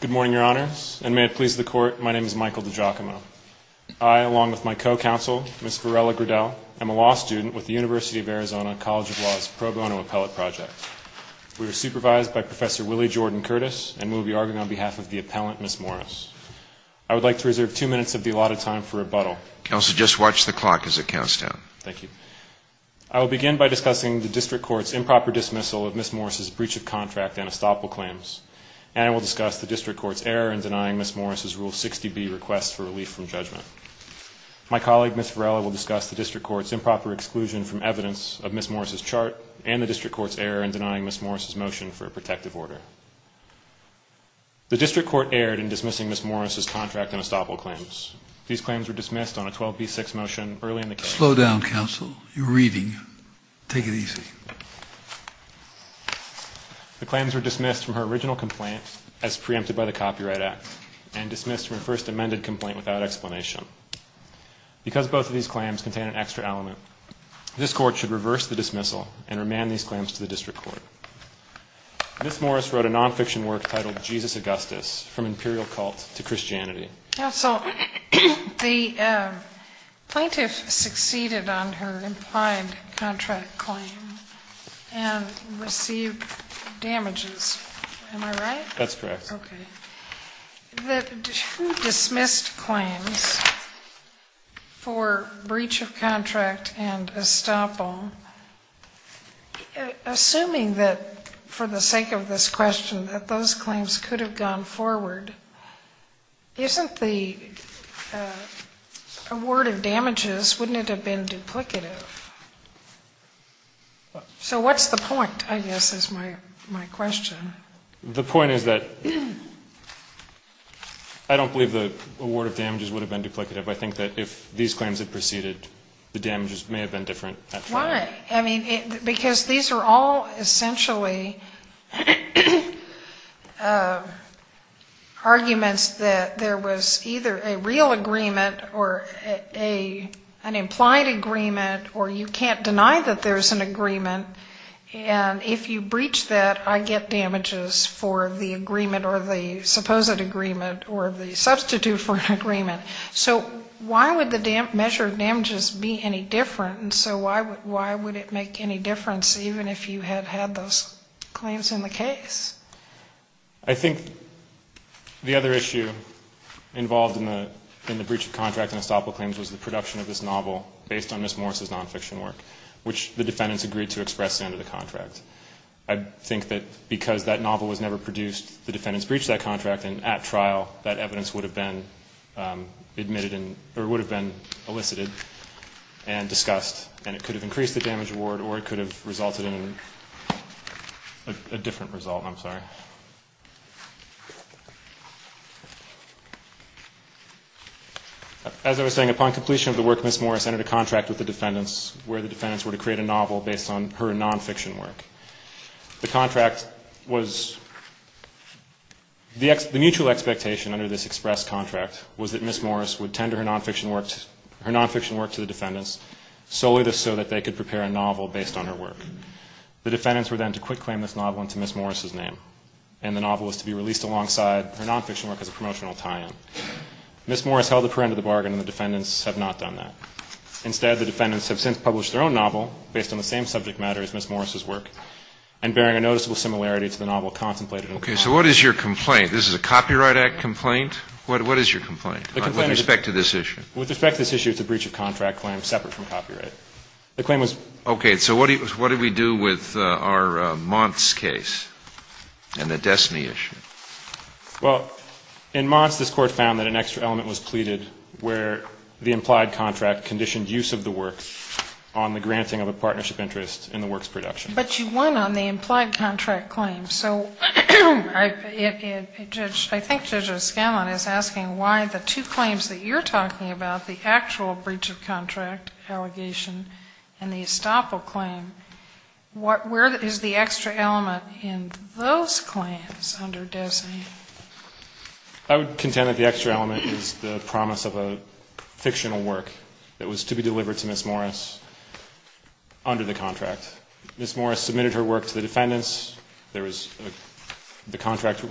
Good morning, Your Honors, and may it please the Court, my name is Michael DiGiacomo. I, along with my co-counsel, Ms. Varela Gradel, am a law student with the University of Arizona College of Law's Pro Bono Appellate Project. We are supervised by Professor Willie Jordan Curtis, and we will be arguing on behalf of the appellant, Ms. Morris. I would like to reserve two minutes of the allotted time for rebuttal. Counsel, just watch the clock as it counts down. Thank you. I will begin by discussing the District Court's improper dismissal of Ms. Morris' breach of contract and estoppel claims. And I will discuss the District Court's error in denying Ms. Morris' Rule 60B request for relief from judgment. My colleague, Ms. Varela, will discuss the District Court's improper exclusion from evidence of Ms. Morris' chart and the District Court's error in denying Ms. Morris' motion for a protective order. The District Court erred in dismissing Ms. Morris' contract and estoppel claims. These claims were dismissed on a 12B6 motion early in the case. Slow down, Counsel. You're reading. Take it easy. The claims were dismissed from her original complaint as preempted by the Copyright Act and dismissed from her first amended complaint without explanation. Because both of these claims contain an extra element, this Court should reverse the dismissal and remand these claims to the District Court. Ms. Morris wrote a nonfiction work titled Jesus Augustus, From Imperial Cult to Christianity. Counsel, the plaintiff succeeded on her implied contract claim and received damages. Am I right? That's correct. Okay. Who dismissed claims for breach of contract and estoppel? Assuming that, for the sake of this question, that those claims could have gone forward, isn't the award of damages, wouldn't it have been duplicative? So what's the point, I guess, is my question. The point is that I don't believe the award of damages would have been duplicative. I think that if these claims had proceeded, the damages may have been different. Why? I mean, because these are all essentially arguments that there was either a real agreement or an implied agreement or you can't deny that there's an agreement, and if you breach that, I get damages for the agreement or the supposed agreement or the substitute for an agreement. So why would the measure of damages be any different? And so why would it make any difference even if you had had those claims in the case? I think the other issue involved in the breach of contract and estoppel claims was the production of this novel based on Ms. Morris' nonfiction work, which the defendants agreed to express under the contract. I think that because that novel was never produced, the defendants breached that contract, that evidence would have been elicited and discussed, and it could have increased the damage award or it could have resulted in a different result. I'm sorry. As I was saying, upon completion of the work, Ms. Morris entered a contract with the defendants where the defendants were to create a novel based on her nonfiction work. The mutual expectation under this express contract was that Ms. Morris would tender her nonfiction work to the defendants solely so that they could prepare a novel based on her work. The defendants were then to quit-claim this novel into Ms. Morris' name, and the novel was to be released alongside her nonfiction work as a promotional tie-in. Ms. Morris held a perennial bargain, and the defendants have not done that. Instead, the defendants have since published their own novel based on the same subject matter as Ms. Morris' work and bearing a noticeable similarity to the novel contemplated. Okay, so what is your complaint? This is a Copyright Act complaint? What is your complaint with respect to this issue? With respect to this issue, it's a breach of contract claim separate from copyright. Okay, so what did we do with our Monts case and the Destiny issue? Well, in Monts, this Court found that an extra element was pleaded where the implied contract conditioned use of the work on the granting of a partnership interest in the work's production. But you won on the implied contract claim. So I think Judge O'Scanlan is asking why the two claims that you're talking about, the actual breach of contract allegation and the estoppel claim, where is the extra element in those claims under Destiny? I would contend that the extra element is the promise of a fictional work that was to be delivered to Ms. Morris under the contract. Ms. Morris submitted her work to the defendants. The contract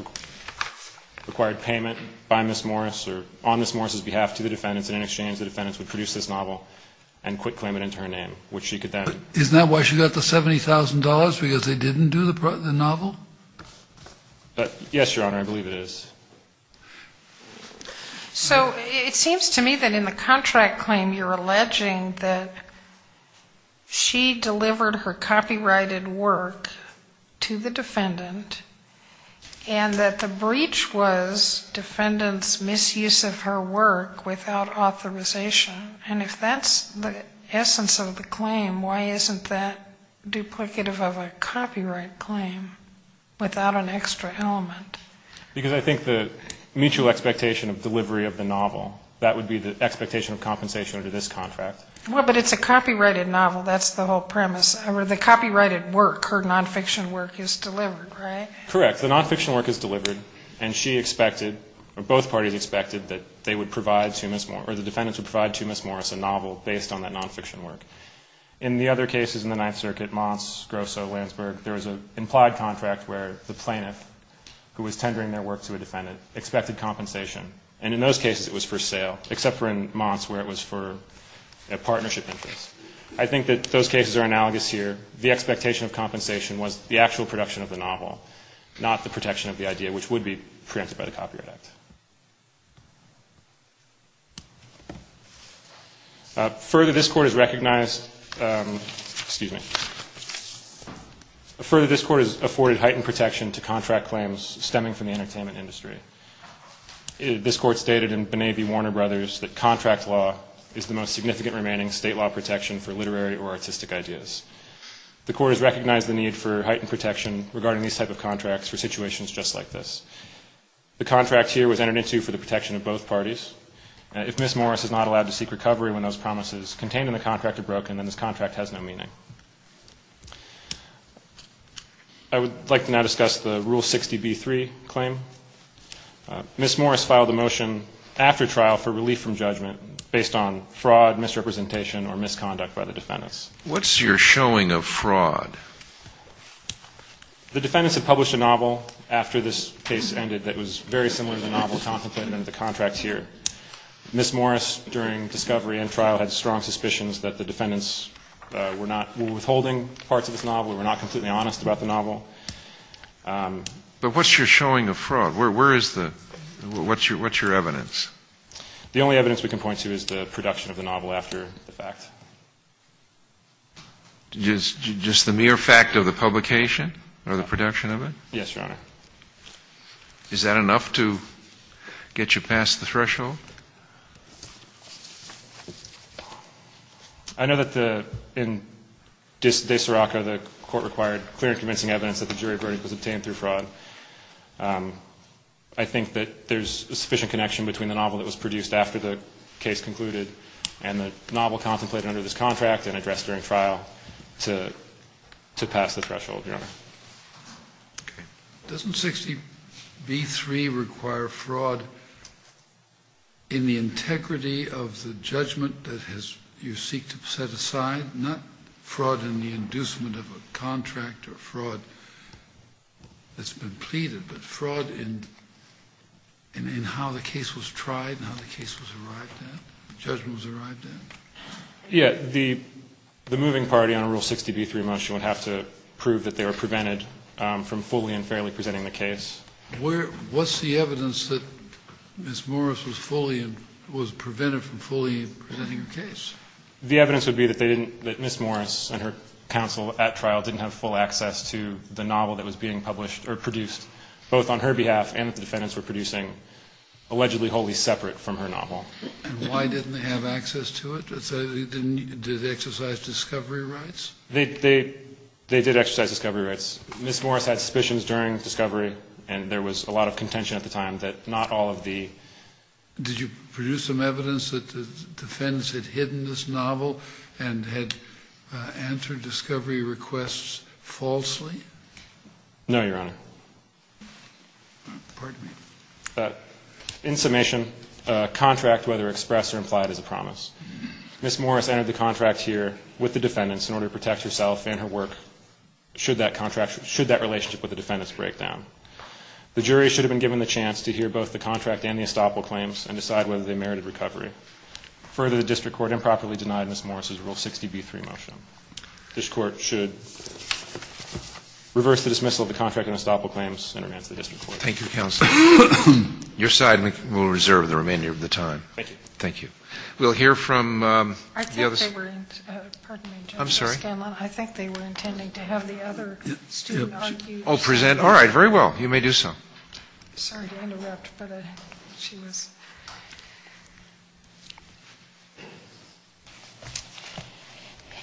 required payment by Ms. Morris or on Ms. Morris' behalf to the defendants, and in exchange the defendants would produce this novel and quit claiming it in her name. Isn't that why she got the $70,000, because they didn't do the novel? Yes, Your Honor, I believe it is. So it seems to me that in the contract claim you're alleging that she delivered her copyrighted work to the defendant and that the breach was defendants' misuse of her work without authorization. And if that's the essence of the claim, why isn't that duplicative of a copyright claim without an extra element? Because I think the mutual expectation of delivery of the novel, that would be the expectation of compensation under this contract. Well, but it's a copyrighted novel. That's the whole premise. The copyrighted work, her nonfiction work, is delivered, right? Correct. The nonfiction work is delivered, and she expected, or both parties expected, that they would provide to Ms. Morris, or the defendants would provide to Ms. Morris a novel based on that nonfiction work. In the other cases in the Ninth Circuit, Monts, Grosso, Landsberg, there was an implied contract where the plaintiff, who was tendering their work to a defendant, expected compensation, and in those cases it was for sale, except for in Monts where it was for a partnership interest. I think that those cases are analogous here. The expectation of compensation was the actual production of the novel, not the protection of the idea, which would be preempted by the Copyright Act. Further, this Court has afforded heightened protection to contract claims stemming from the entertainment industry. This Court stated in B'Nabi Warner Brothers that contract law is the most significant remaining state law protection for literary or artistic ideas. The Court has recognized the need for heightened protection regarding these type of contracts for situations just like this. The contract here, which is a nonfiction work, was entered into for the protection of both parties. If Ms. Morris is not allowed to seek recovery when those promises contained in the contract are broken, then this contract has no meaning. I would like to now discuss the Rule 60b-3 claim. Ms. Morris filed a motion after trial for relief from judgment based on fraud, misrepresentation, or misconduct by the defendants. What's your showing of fraud? The defendants had published a novel after this case ended that was very similar to the novel contemplated in the contract here. Ms. Morris, during discovery and trial, had strong suspicions that the defendants were withholding parts of this novel or were not completely honest about the novel. But what's your showing of fraud? Where is the – what's your evidence? The only evidence we can point to is the production of the novel after the fact. Just the mere fact of the publication or the production of it? Yes, Your Honor. Is that enough to get you past the threshold? I know that in De Siraco, the court required clear and convincing evidence that the jury verdict was obtained through fraud. I think that there's a sufficient connection between the novel that was produced after the case concluded and the novel contemplated under this contract and addressed during trial to pass the threshold, Your Honor. Okay. Doesn't 60B3 require fraud in the integrity of the judgment that you seek to set aside? Not fraud in the inducement of a contract or fraud that's been pleaded, but fraud in how the case was tried and how the case was arrived at, judgment was arrived at? Yeah. The moving party on a Rule 60B3 motion would have to prove that they were prevented from fully and fairly presenting the case. What's the evidence that Ms. Morris was prevented from fully presenting her case? The evidence would be that Ms. Morris and her counsel at trial didn't have full access to the novel that was being published or produced both on her behalf and that the defendants were producing, allegedly wholly separate from her novel. And why didn't they have access to it? Did they exercise discovery rights? They did exercise discovery rights. Ms. Morris had suspicions during discovery and there was a lot of contention at the time that not all of the... Did you produce some evidence that the defendants had hidden this novel and had entered discovery requests falsely? No, Your Honor. Pardon me. In summation, contract, whether expressed or implied, is a promise. Ms. Morris entered the contract here with the defendants in order to protect herself and her work should that relationship with the defendants break down. The jury should have been given the chance to hear both the contract and the estoppel claims and decide whether they merited recovery. Further, the district court improperly denied Ms. Morris' Rule 60B3 motion. This court should reverse the dismissal of the contract and estoppel claims and remand to the district court. Thank you, counsel. Your side will reserve the remainder of the time. Thank you. Thank you. We'll hear from the others. I think they were... Pardon me, Judge. I'm sorry. I think they were intending to have the other student argue. I'll present. All right, very well. You may do so. Sorry to interrupt, but she was...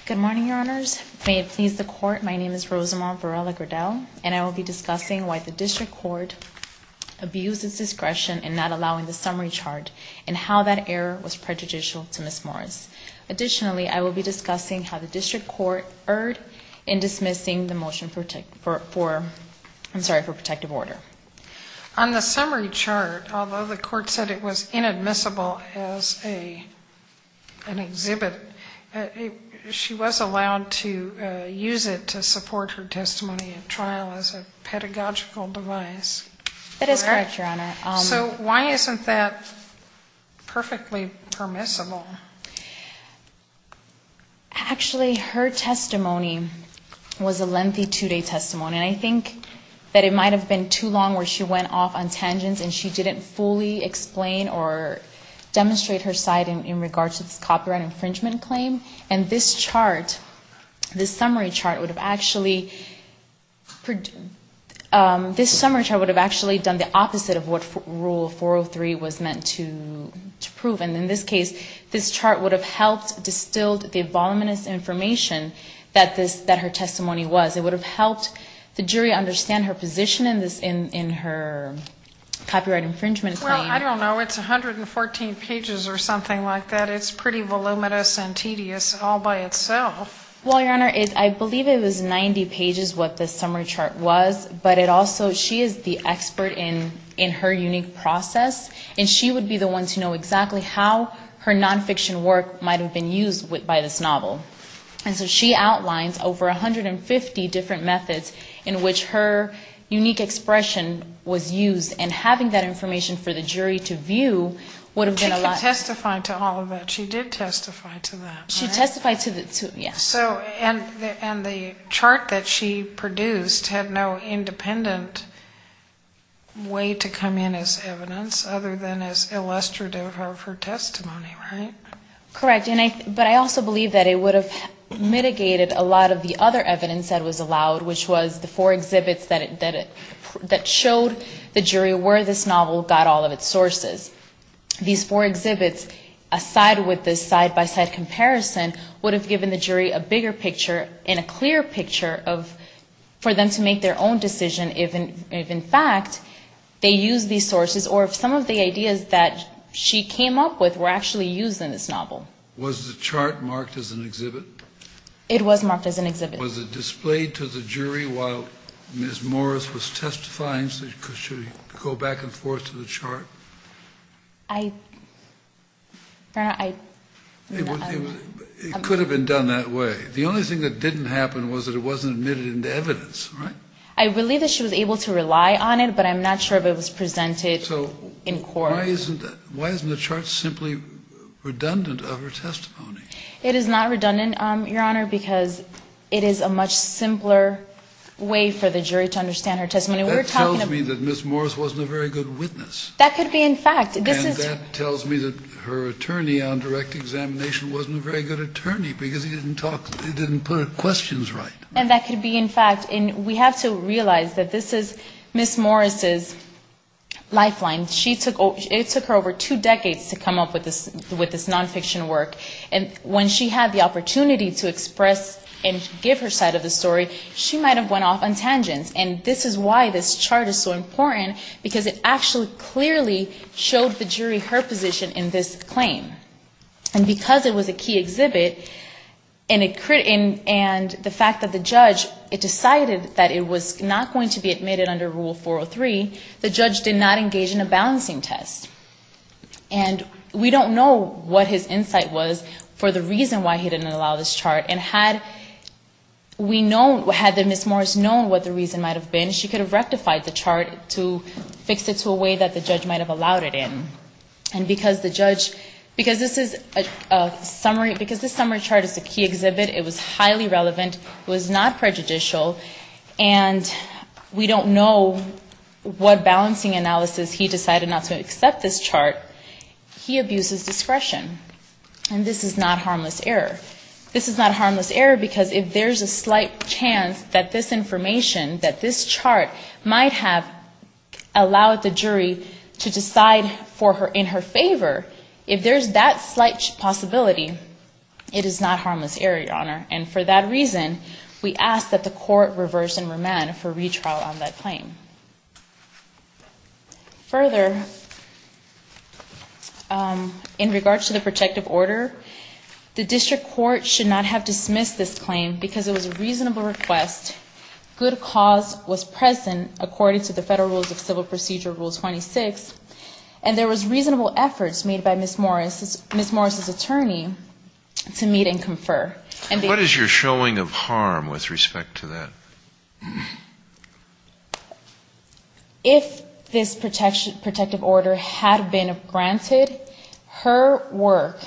Good morning, Your Honors. May it please the court, my name is Rosamond Varela-Gradel and I will be discussing why the district court abused its discretion in not allowing the summary chart and how that error was prejudicial to Ms. Morris. Additionally, I will be discussing how the district court erred in dismissing the motion for protective order. On the summary chart, although the court said it was inadmissible as an exhibit, she was allowed to use it to support her testimony at trial as a pedagogical device. That is correct, Your Honor. So why isn't that perfectly permissible? Actually, her testimony was a lengthy two-day testimony, and I think that it might have been too long where she went off on tangents and she didn't fully explain or demonstrate her side in regards to this copyright infringement claim. And this chart, this summary chart would have actually done the opposite of what Rule 403 was meant to prove. And in this case, this chart would have helped distilled the voluminous information that her testimony was. It would have helped the jury understand her position in her copyright infringement claim. I don't know. It's 114 pages or something like that. It's pretty voluminous and tedious all by itself. Well, Your Honor, I believe it was 90 pages what this summary chart was, but it also, she is the expert in her unique process, and she would be the one to know exactly how her nonfiction work might have been used by this novel. And so she outlines over 150 different methods in which her unique expression was used, and having that information for the jury to view would have been a lot. She can testify to all of that. She did testify to that. She testified to that, yes. And the chart that she produced had no independent way to come in as evidence other than as illustrative of her testimony, right? Correct. But I also believe that it would have mitigated a lot of the other evidence that was allowed, which was the four exhibits that showed the jury where this novel got all of its sources. These four exhibits, aside with this side-by-side comparison, would have given the jury a bigger picture and a clearer picture for them to make their own decision if, in fact, they used these sources or if some of the ideas that she came up with were actually used in this novel. Was the chart marked as an exhibit? It was marked as an exhibit. Was it displayed to the jury while Ms. Morris was testifying? Should it go back and forth to the chart? I don't know. It could have been done that way. The only thing that didn't happen was that it wasn't admitted into evidence, right? I believe that she was able to rely on it, but I'm not sure if it was presented in court. So why isn't the chart simply redundant of her testimony? It is not redundant, Your Honor, because it is a much simpler way for the jury to understand her testimony. That tells me that Ms. Morris wasn't a very good witness. That could be in fact. And that tells me that her attorney on direct examination wasn't a very good attorney because he didn't put her questions right. And that could be in fact. And we have to realize that this is Ms. Morris's lifeline. It took her over two decades to come up with this nonfiction work. And when she had the opportunity to express and give her side of the story, she might have went off on tangents. And this is why this chart is so important, because it actually clearly showed the jury her position in this claim. And because it was a key exhibit and the fact that the judge decided that it was not going to be admitted under Rule 403, the judge did not engage in a balancing test. And we don't know what his insight was for the reason why he didn't allow this chart. And had we known, had Ms. Morris known what the reason might have been, she could have rectified the chart to fix it to a way that the judge might have allowed it in. And because the judge, because this is a summary, because this summary chart is a key exhibit, it was highly relevant. It was not prejudicial. And we don't know what balancing analysis he decided not to accept this chart. He abuses discretion. And this is not harmless error. This is not harmless error because if there's a slight chance that this information, that this chart, might have allowed the jury to decide in her favor, if there's that slight possibility, it is not harmless error, Your Honor. And for that reason, we ask that the court reverse and remand for retrial on that claim. Further, in regards to the protective order, the district court should not have dismissed this claim because it was a reasonable request. Good cause was present according to the Federal Rules of Civil Procedure, Rule 26. And there was reasonable efforts made by Ms. Morris's attorney to meet and confer. And what is your showing of harm with respect to that? If this protective order had been granted, her work,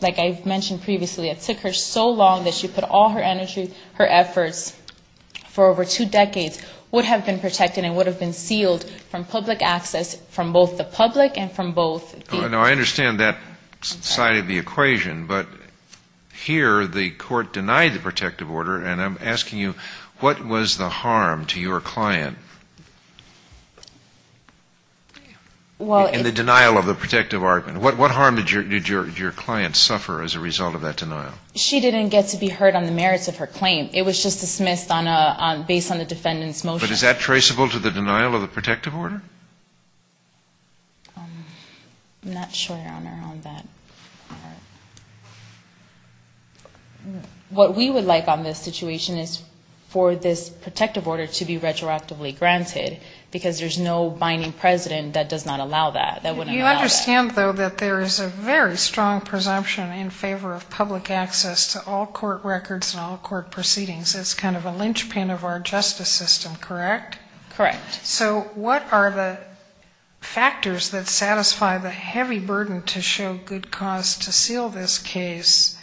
like I've mentioned previously, it took her so long that she put all her energy, her efforts for over two decades, would have been protected and would have been sealed from public access from both the public and from both. Now, I understand that side of the equation, but here the court denied the protective order. And I'm asking you, what was the harm to your client in the denial of the protective argument? What harm did your client suffer as a result of that denial? She didn't get to be heard on the merits of her claim. It was just dismissed based on the defendant's motion. But is that traceable to the denial of the protective order? I'm not sure, Your Honor, on that part. What we would like on this situation is for this protective order to be retroactively granted because there's no binding precedent that does not allow that, that wouldn't allow that. You understand, though, that there is a very strong presumption in favor of public access to all court records and all court proceedings. It's kind of a linchpin of our justice system, correct? Correct. So what are the factors that satisfy the heavy burden to show good cause to seal this case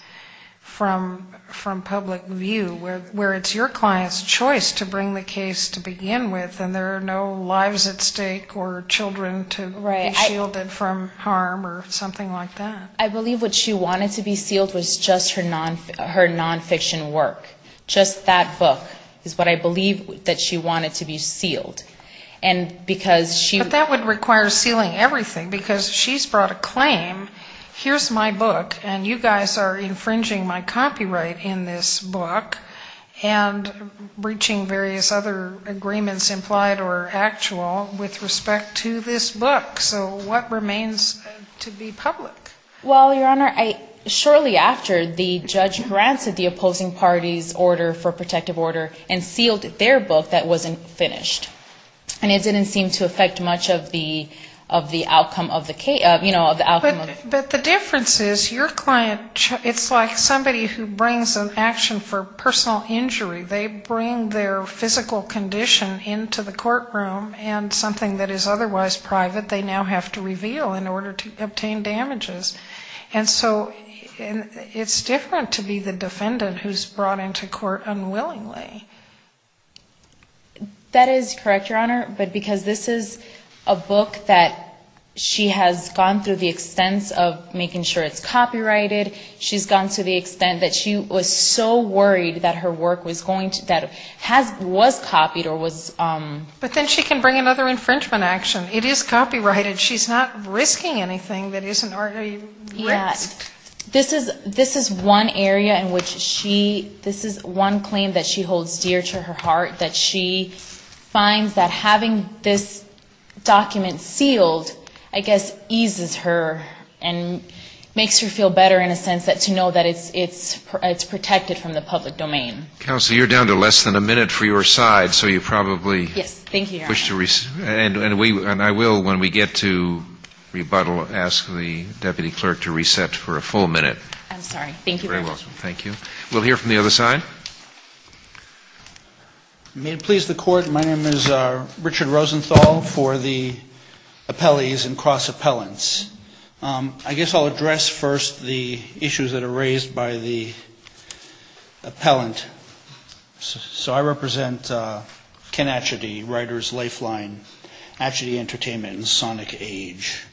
from public view, where it's your client's choice to bring the case to begin with and there are no lives at stake or children to be shielded from harm or something like that? I believe what she wanted to be sealed was just her nonfiction work, just that book is what I believe that she wanted to be sealed. But that would require sealing everything because she's brought a claim, here's my book and you guys are infringing my copyright in this book and breaching various other agreements implied or actual with respect to this book. So what remains to be public? Well, Your Honor, shortly after the judge granted the opposing party's order for protective order and sealed their book that wasn't finished. And it didn't seem to affect much of the outcome of the case, you know, of the outcome of the case. But the difference is your client, it's like somebody who brings an action for personal injury. They bring their physical condition into the courtroom and something that is otherwise private that they now have to reveal in order to obtain damages. And so it's different to be the defendant who's brought into court unwillingly. That is correct, Your Honor. But because this is a book that she has gone through the extents of making sure it's copyrighted, she's gone to the extent that she was so worried that her work was going to, that was copied or was... But then she can bring another infringement action. It is copyrighted. She's not risking anything that isn't already risked. Yeah. This is one area in which she, this is one claim that she holds dear to her heart, that she finds that having this document sealed, I guess, eases her and makes her feel better in a sense that to know that it's protected from the public domain. Counsel, you're down to less than a minute for your side, so you probably... Yes. Thank you, Your Honor. And I will, when we get to rebuttal, ask the deputy clerk to reset for a full minute. I'm sorry. Thank you very much. You're very welcome. Thank you. We'll hear from the other side. May it please the Court, my name is Richard Rosenthal for the appellees and cross-appellants. I guess I'll address first the issues that are raised by the appellant. So I represent Ken Atchity, Writer's Lifeline, Atchity Entertainment and Sonic Age.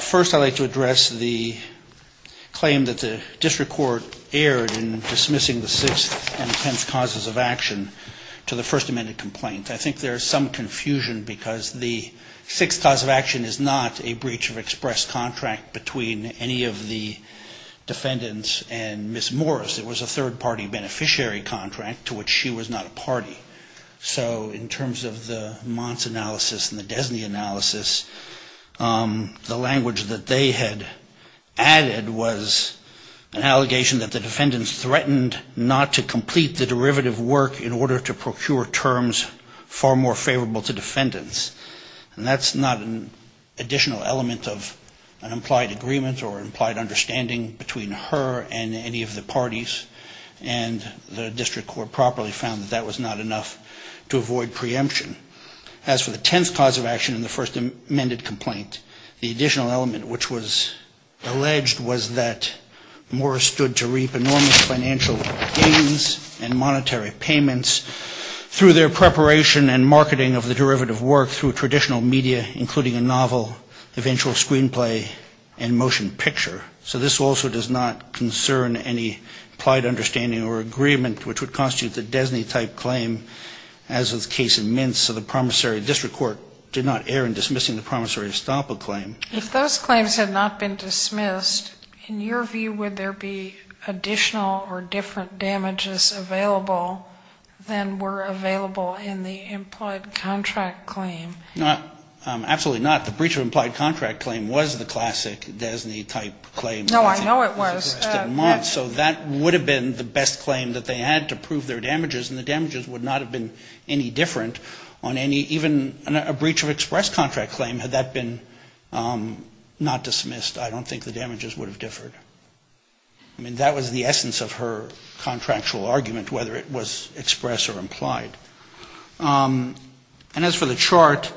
First, I'd like to address the claim that the district court erred in dismissing the sixth and tenth causes of action to the First Amendment complaint. I think there's some confusion because the sixth cause of action is not a breach of express contract between any of the defendants and Ms. Morris. It was a third-party beneficiary contract to which she was not a party. So in terms of the Mons analysis and the Desney analysis, the language that they had added was an allegation that the defendants threatened not to complete the derivative work in order to procure terms for the third party beneficiary contract. And that's not an additional element of an implied agreement or implied understanding between her and any of the parties. And the district court properly found that that was not enough to avoid preemption. As for the tenth cause of action in the First Amendment complaint, the additional element which was alleged was that Morris stood to reap enormous financial gains and monetary payments through their preparation and marketing of the derivative work through traditional media, including a novel, eventual screenplay and motion picture. So this also does not concern any implied understanding or agreement, which would constitute the Desney-type claim, as was the case in Mintz. So the promissory district court did not err in dismissing the promissory estoppel claim. If those claims had not been dismissed, in your view, would there be additional or different damages available that could have been avoided? And were available in the implied contract claim? Absolutely not. The breach of implied contract claim was the classic Desney-type claim. No, I know it was. So that would have been the best claim that they had to prove their damages, and the damages would not have been any different on any, even a breach of express contract claim had that been not dismissed. I don't think the damages would have differed. I mean, that was the essence of her contractual argument, whether it was express or implied. And as for the chart,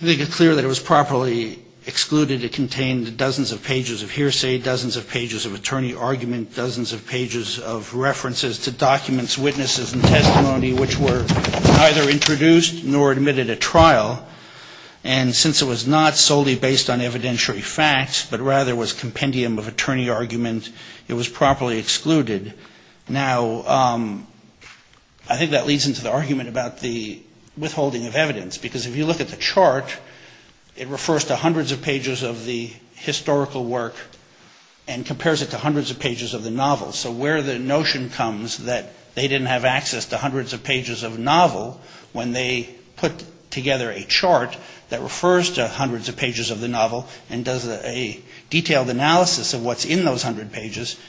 I think it's clear that it was properly excluded. It contained dozens of pages of hearsay, dozens of pages of attorney argument, dozens of pages of references to documents, witnesses and testimony, which were neither introduced nor admitted at trial. And since it was not solely based on evidentiary facts, but rather was compendium of attorney argument, it was properly excluded. Now, I think that leads into the argument about the withholding of evidence. Because if you look at the chart, it refers to hundreds of pages of the historical work and compares it to hundreds of pages of the novel. So where the notion comes that they didn't have access to hundreds of pages of novel when they put together a chart. That refers to hundreds of pages of the novel and does a detailed analysis of what's in those hundred pages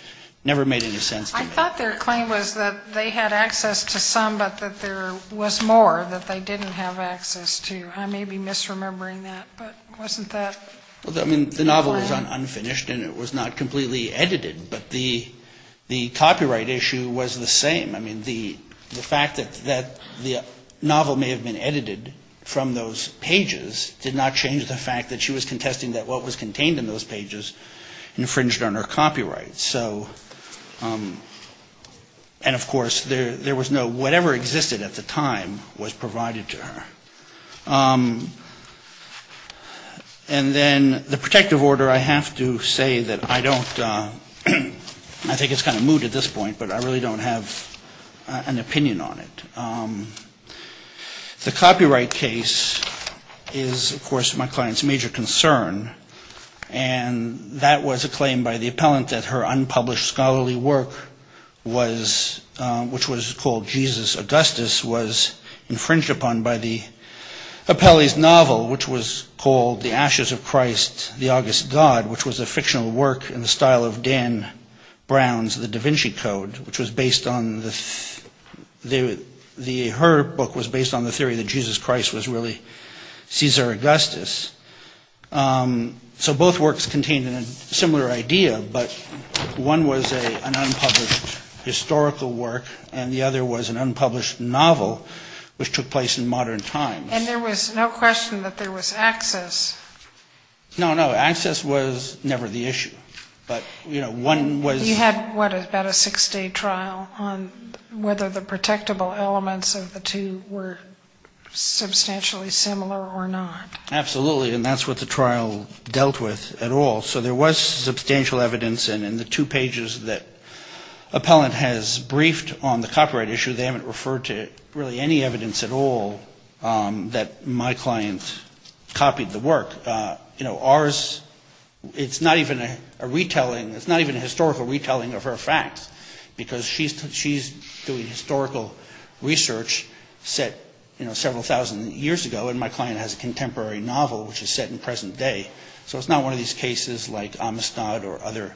never made any sense to me. I thought their claim was that they had access to some, but that there was more that they didn't have access to. I may be misremembering that, but wasn't that... I mean, the novel was unfinished and it was not completely edited, but the copyright issue was the same. I mean, the fact that the novel may have been edited from those pages did not change the fact that she was contesting that what was contained in those pages infringed on her copyright. And, of course, there was no... Whatever existed at the time was provided to her. And then the protective order, I have to say that I don't... I don't have an opinion on it. The copyright case is, of course, my client's major concern. And that was a claim by the appellant that her unpublished scholarly work was... Which was called Jesus Augustus, was infringed upon by the appellee's novel, which was called The Ashes of Christ, The August God, which was a fictional work in the style of Dan Brown's The Da Vinci Code, which was based on the... Her book was based on the theory that Jesus Christ was really Caesar Augustus. So both works contained a similar idea, but one was an unpublished historical work and the other was an unpublished novel, which took place in modern times. And there was no question that there was access. No, no, access was never the issue, but one was... You had, what, about a six-day trial on whether the protectable elements of the two were substantially similar or not. Absolutely, and that's what the trial dealt with at all. So there was substantial evidence, and in the two pages that appellant has briefed on the copyright issue, they haven't referred to really any evidence at all that my client copied the work. Ours, it's not even a retelling, it's not even a historical retelling of her facts, because she's doing historical research set several thousand years ago, and my client has a contemporary novel, which is set in present day. So it's not one of these cases like Amistad or other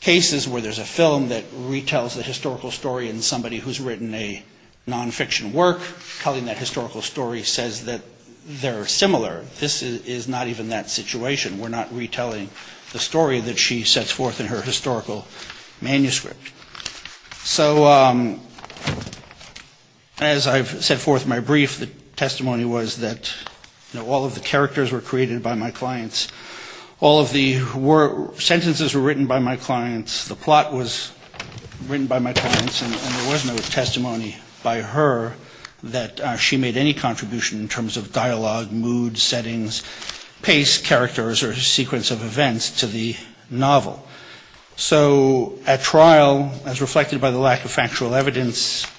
cases where there's a film that retells a historical story, and somebody who's written a nonfiction work telling that historical story says that they're similar. This is not even that situation, we're not retelling the story that she sets forth in her historical manuscript. So as I've set forth in my brief, the testimony was that all of the characters were created by my clients, all of the sentences were written by my clients, the plot was written by my clients, and there was no testimony by her that she made any contribution in terms of dialogue, moods, settings, pace, characters, or sequence of events to the novel. So at trial, as reflected by the lack of factual evidence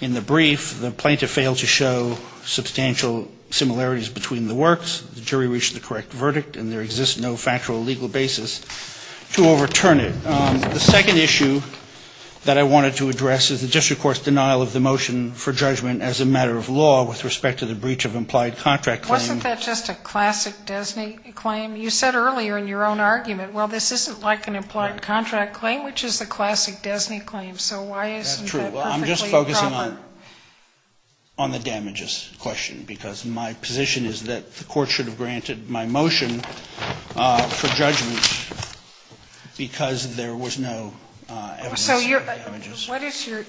in the brief, the plaintiff failed to show substantial similarities between the works, the jury reached the correct verdict, and there exists no factual legal basis to overturn it. The second issue that I wanted to address is the district court's denial of the motion for judgment as a matter of law with respect to the breach of implied contract claim. Sotomayor Wasn't that just a classic DESNY claim? You said earlier in your own argument, well, this isn't like an implied contract claim, which is a classic DESNY claim. So why isn't that perfectly proper? I'm just focusing on the damages question, because my position is that the court should have granted my motion for judgment, because there was no evidence of damages.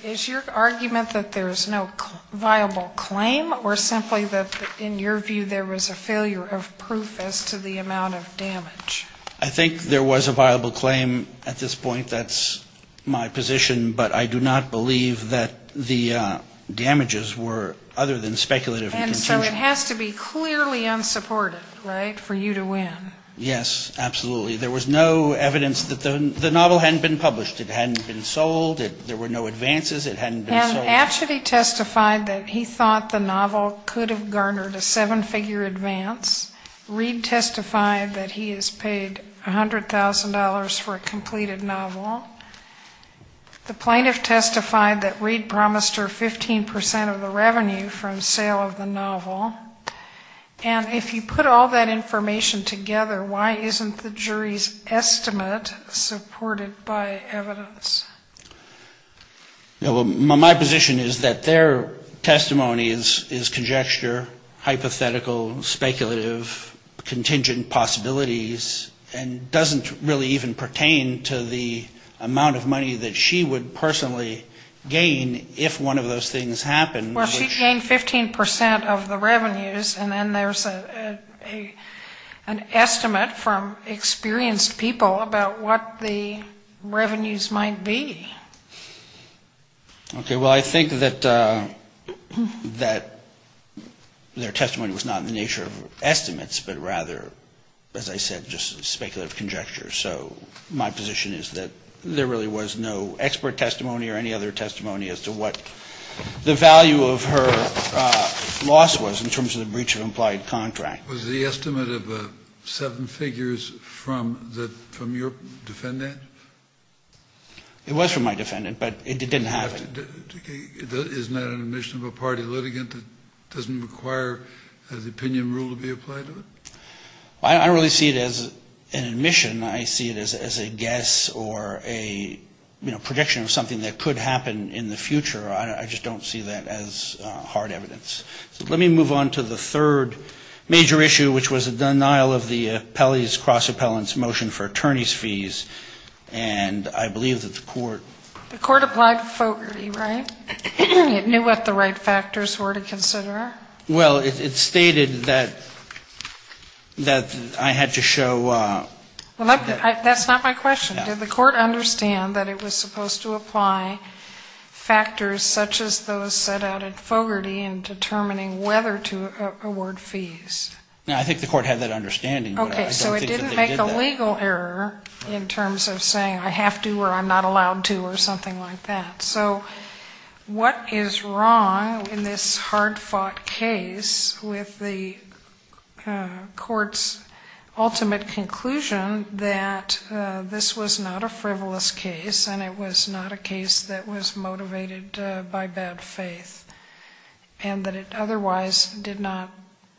Is your argument that there is no viable claim, or simply that in your view there was a failure of proof as to the amount of damage? I think there was a viable claim at this point. That's my position, but I do not believe that the damages were other than speculative. And so it has to be clearly unsupported, right, for you to win. Yes, absolutely. There was no evidence that the novel hadn't been published. It hadn't been sold. There were no advances. It hadn't been sold. Hatchett, he testified that he thought the novel could have garnered a seven-figure advance. Reed testified that he has paid $100,000 for a completed novel. The plaintiff testified that Reed promised her 15% of the revenue from sale of the novel. And if you put all that information together, why isn't the jury's estimate supported by evidence? My position is that their testimony is conjecture, hypothetical, speculative, contingent possibilities, and doesn't really even pertain to the amount of money that she would personally gain if one of those things happened. Well, she gained 15% of the revenues, and then there's an estimate from experienced people about what the revenues might be. Okay, well, I think that their testimony was not in the nature of estimates, but rather, as I said, just speculative conjecture. So my position is that there really was no expert testimony or any other testimony as to what the value of her loss was in terms of the breach of implied contract. Was the estimate of seven figures from your defendant? It was from my defendant, but it didn't have it. Isn't that an admission of a party litigant that doesn't require the opinion rule to be applied to it? I don't really see it as an admission. I see it as a guess or a prediction of something that could happen in the future. I just don't see that as hard evidence. So let me move on to the third major issue, which was the denial of the Appellee's Cross-Appellant's Motion for Attorney's Fees. And I believe that the court ---- The court applied Fogarty, right? It knew what the right factors were to consider? Well, it stated that I had to show ---- Well, that's not my question. Did the court understand that it was supposed to apply factors such as those set out at Fogarty in determining whether to award fees? No, I think the court had that understanding, but I don't think that they did that. Okay, so it didn't make a legal error in terms of saying I have to or I'm not allowed to or something like that. So what is wrong in this hard-fought case with the court's ultimate conclusion that this was not a frivolous case and it was not a case that was motivated by bad faith, and that it otherwise did not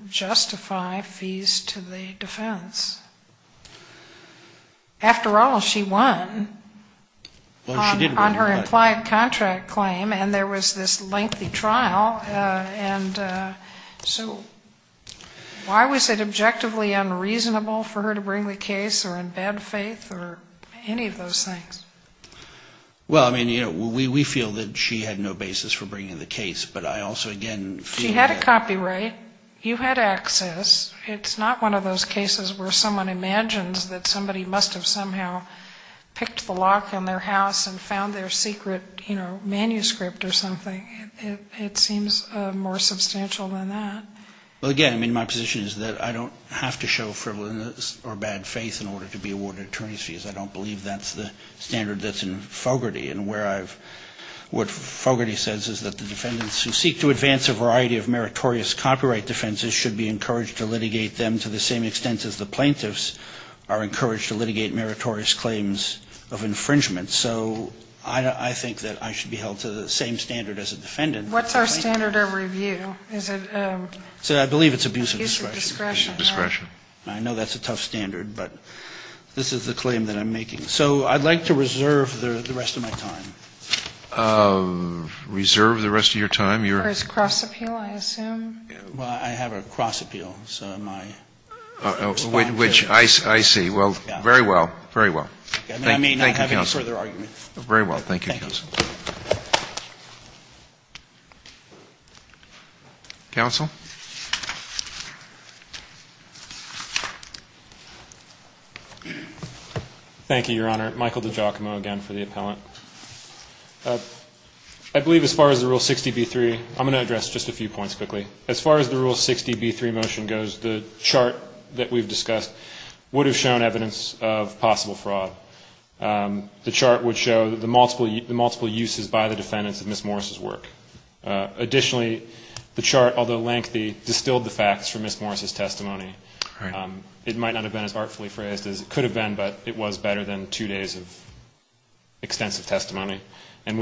justify fees to the defense? After all, she won on her implied contract claim, and there was this lengthy trial, and so why was it objectively unreasonable for her to bring the case or in bad faith or any of those things? Well, I mean, you know, we feel that she had no basis for bringing the case, but I also again feel that ---- She had a copyright. You had access. It's not one of those cases where someone imagines that somebody must have somehow picked the lock on their house and found their secret, you know, manuscript or something. It seems more substantial than that. Well, again, I mean, my position is that I don't have to show frivolous or bad faith in order to be awarded attorney's fees. I don't believe that's the standard that's in Fogarty. And what Fogarty says is that the defendants who seek to advance a variety of meritorious copyright defenses should be encouraged to litigate them to the same extent as the plaintiffs are encouraged to litigate meritorious claims of infringement. So I think that I should be held to the same standard as a defendant. What's our standard of review? Is it ---- I believe it's abuse of discretion. Abuse of discretion. Abuse of discretion. I know that's a tough standard, but this is the claim that I'm making. So I'd like to reserve the rest of my time. Reserve the rest of your time? For his cross appeal, I assume. Well, I have a cross appeal, so my response is ---- Which I see. Well, very well. Very well. Thank you, counsel. I may not have any further argument. Very well. Thank you, counsel. Thank you. Counsel? Thank you, Your Honor. Michael DiGiacomo again for the appellant. I believe as far as the Rule 60b-3, I'm going to address just a few points quickly. As far as the Rule 60b-3 motion goes, the chart that we've discussed would have shown evidence of possible fraud. The chart would show the multiple uses by the defendants of Ms. Morris' work. Additionally, the chart, although lengthy, distilled the facts from Ms. Morris' testimony. It might not have been as artfully phrased as it could have been, but it was better than two days of extensive testimony and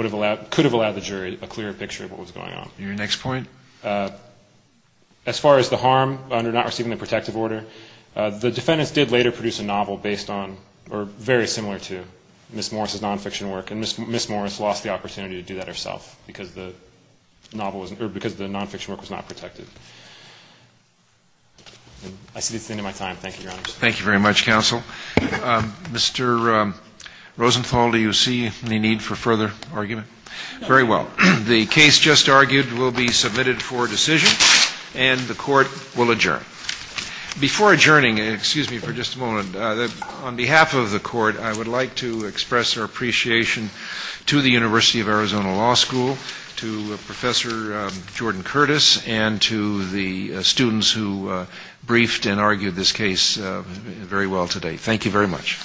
could have allowed the jury a clearer picture of what was going on. Your next point? As far as the harm under not receiving the protective order, the defendants did later produce a novel based on or very similar to Ms. Morris' nonfiction work, and Ms. Morris lost the opportunity to do that herself because the novel wasn't or because the nonfiction work was not protected. I see it's the end of my time. Thank you, Your Honors. Thank you very much, counsel. Mr. Rosenthal, do you see any need for further argument? No. Very well. The case just argued will be submitted for decision, and the Court will adjourn. Before adjourning, excuse me for just a moment, on behalf of the Court, I would like to express our appreciation to the University of Arizona Law School, to Professor Jordan Curtis, and to the students who briefed and argued this case very well today. Thank you very much.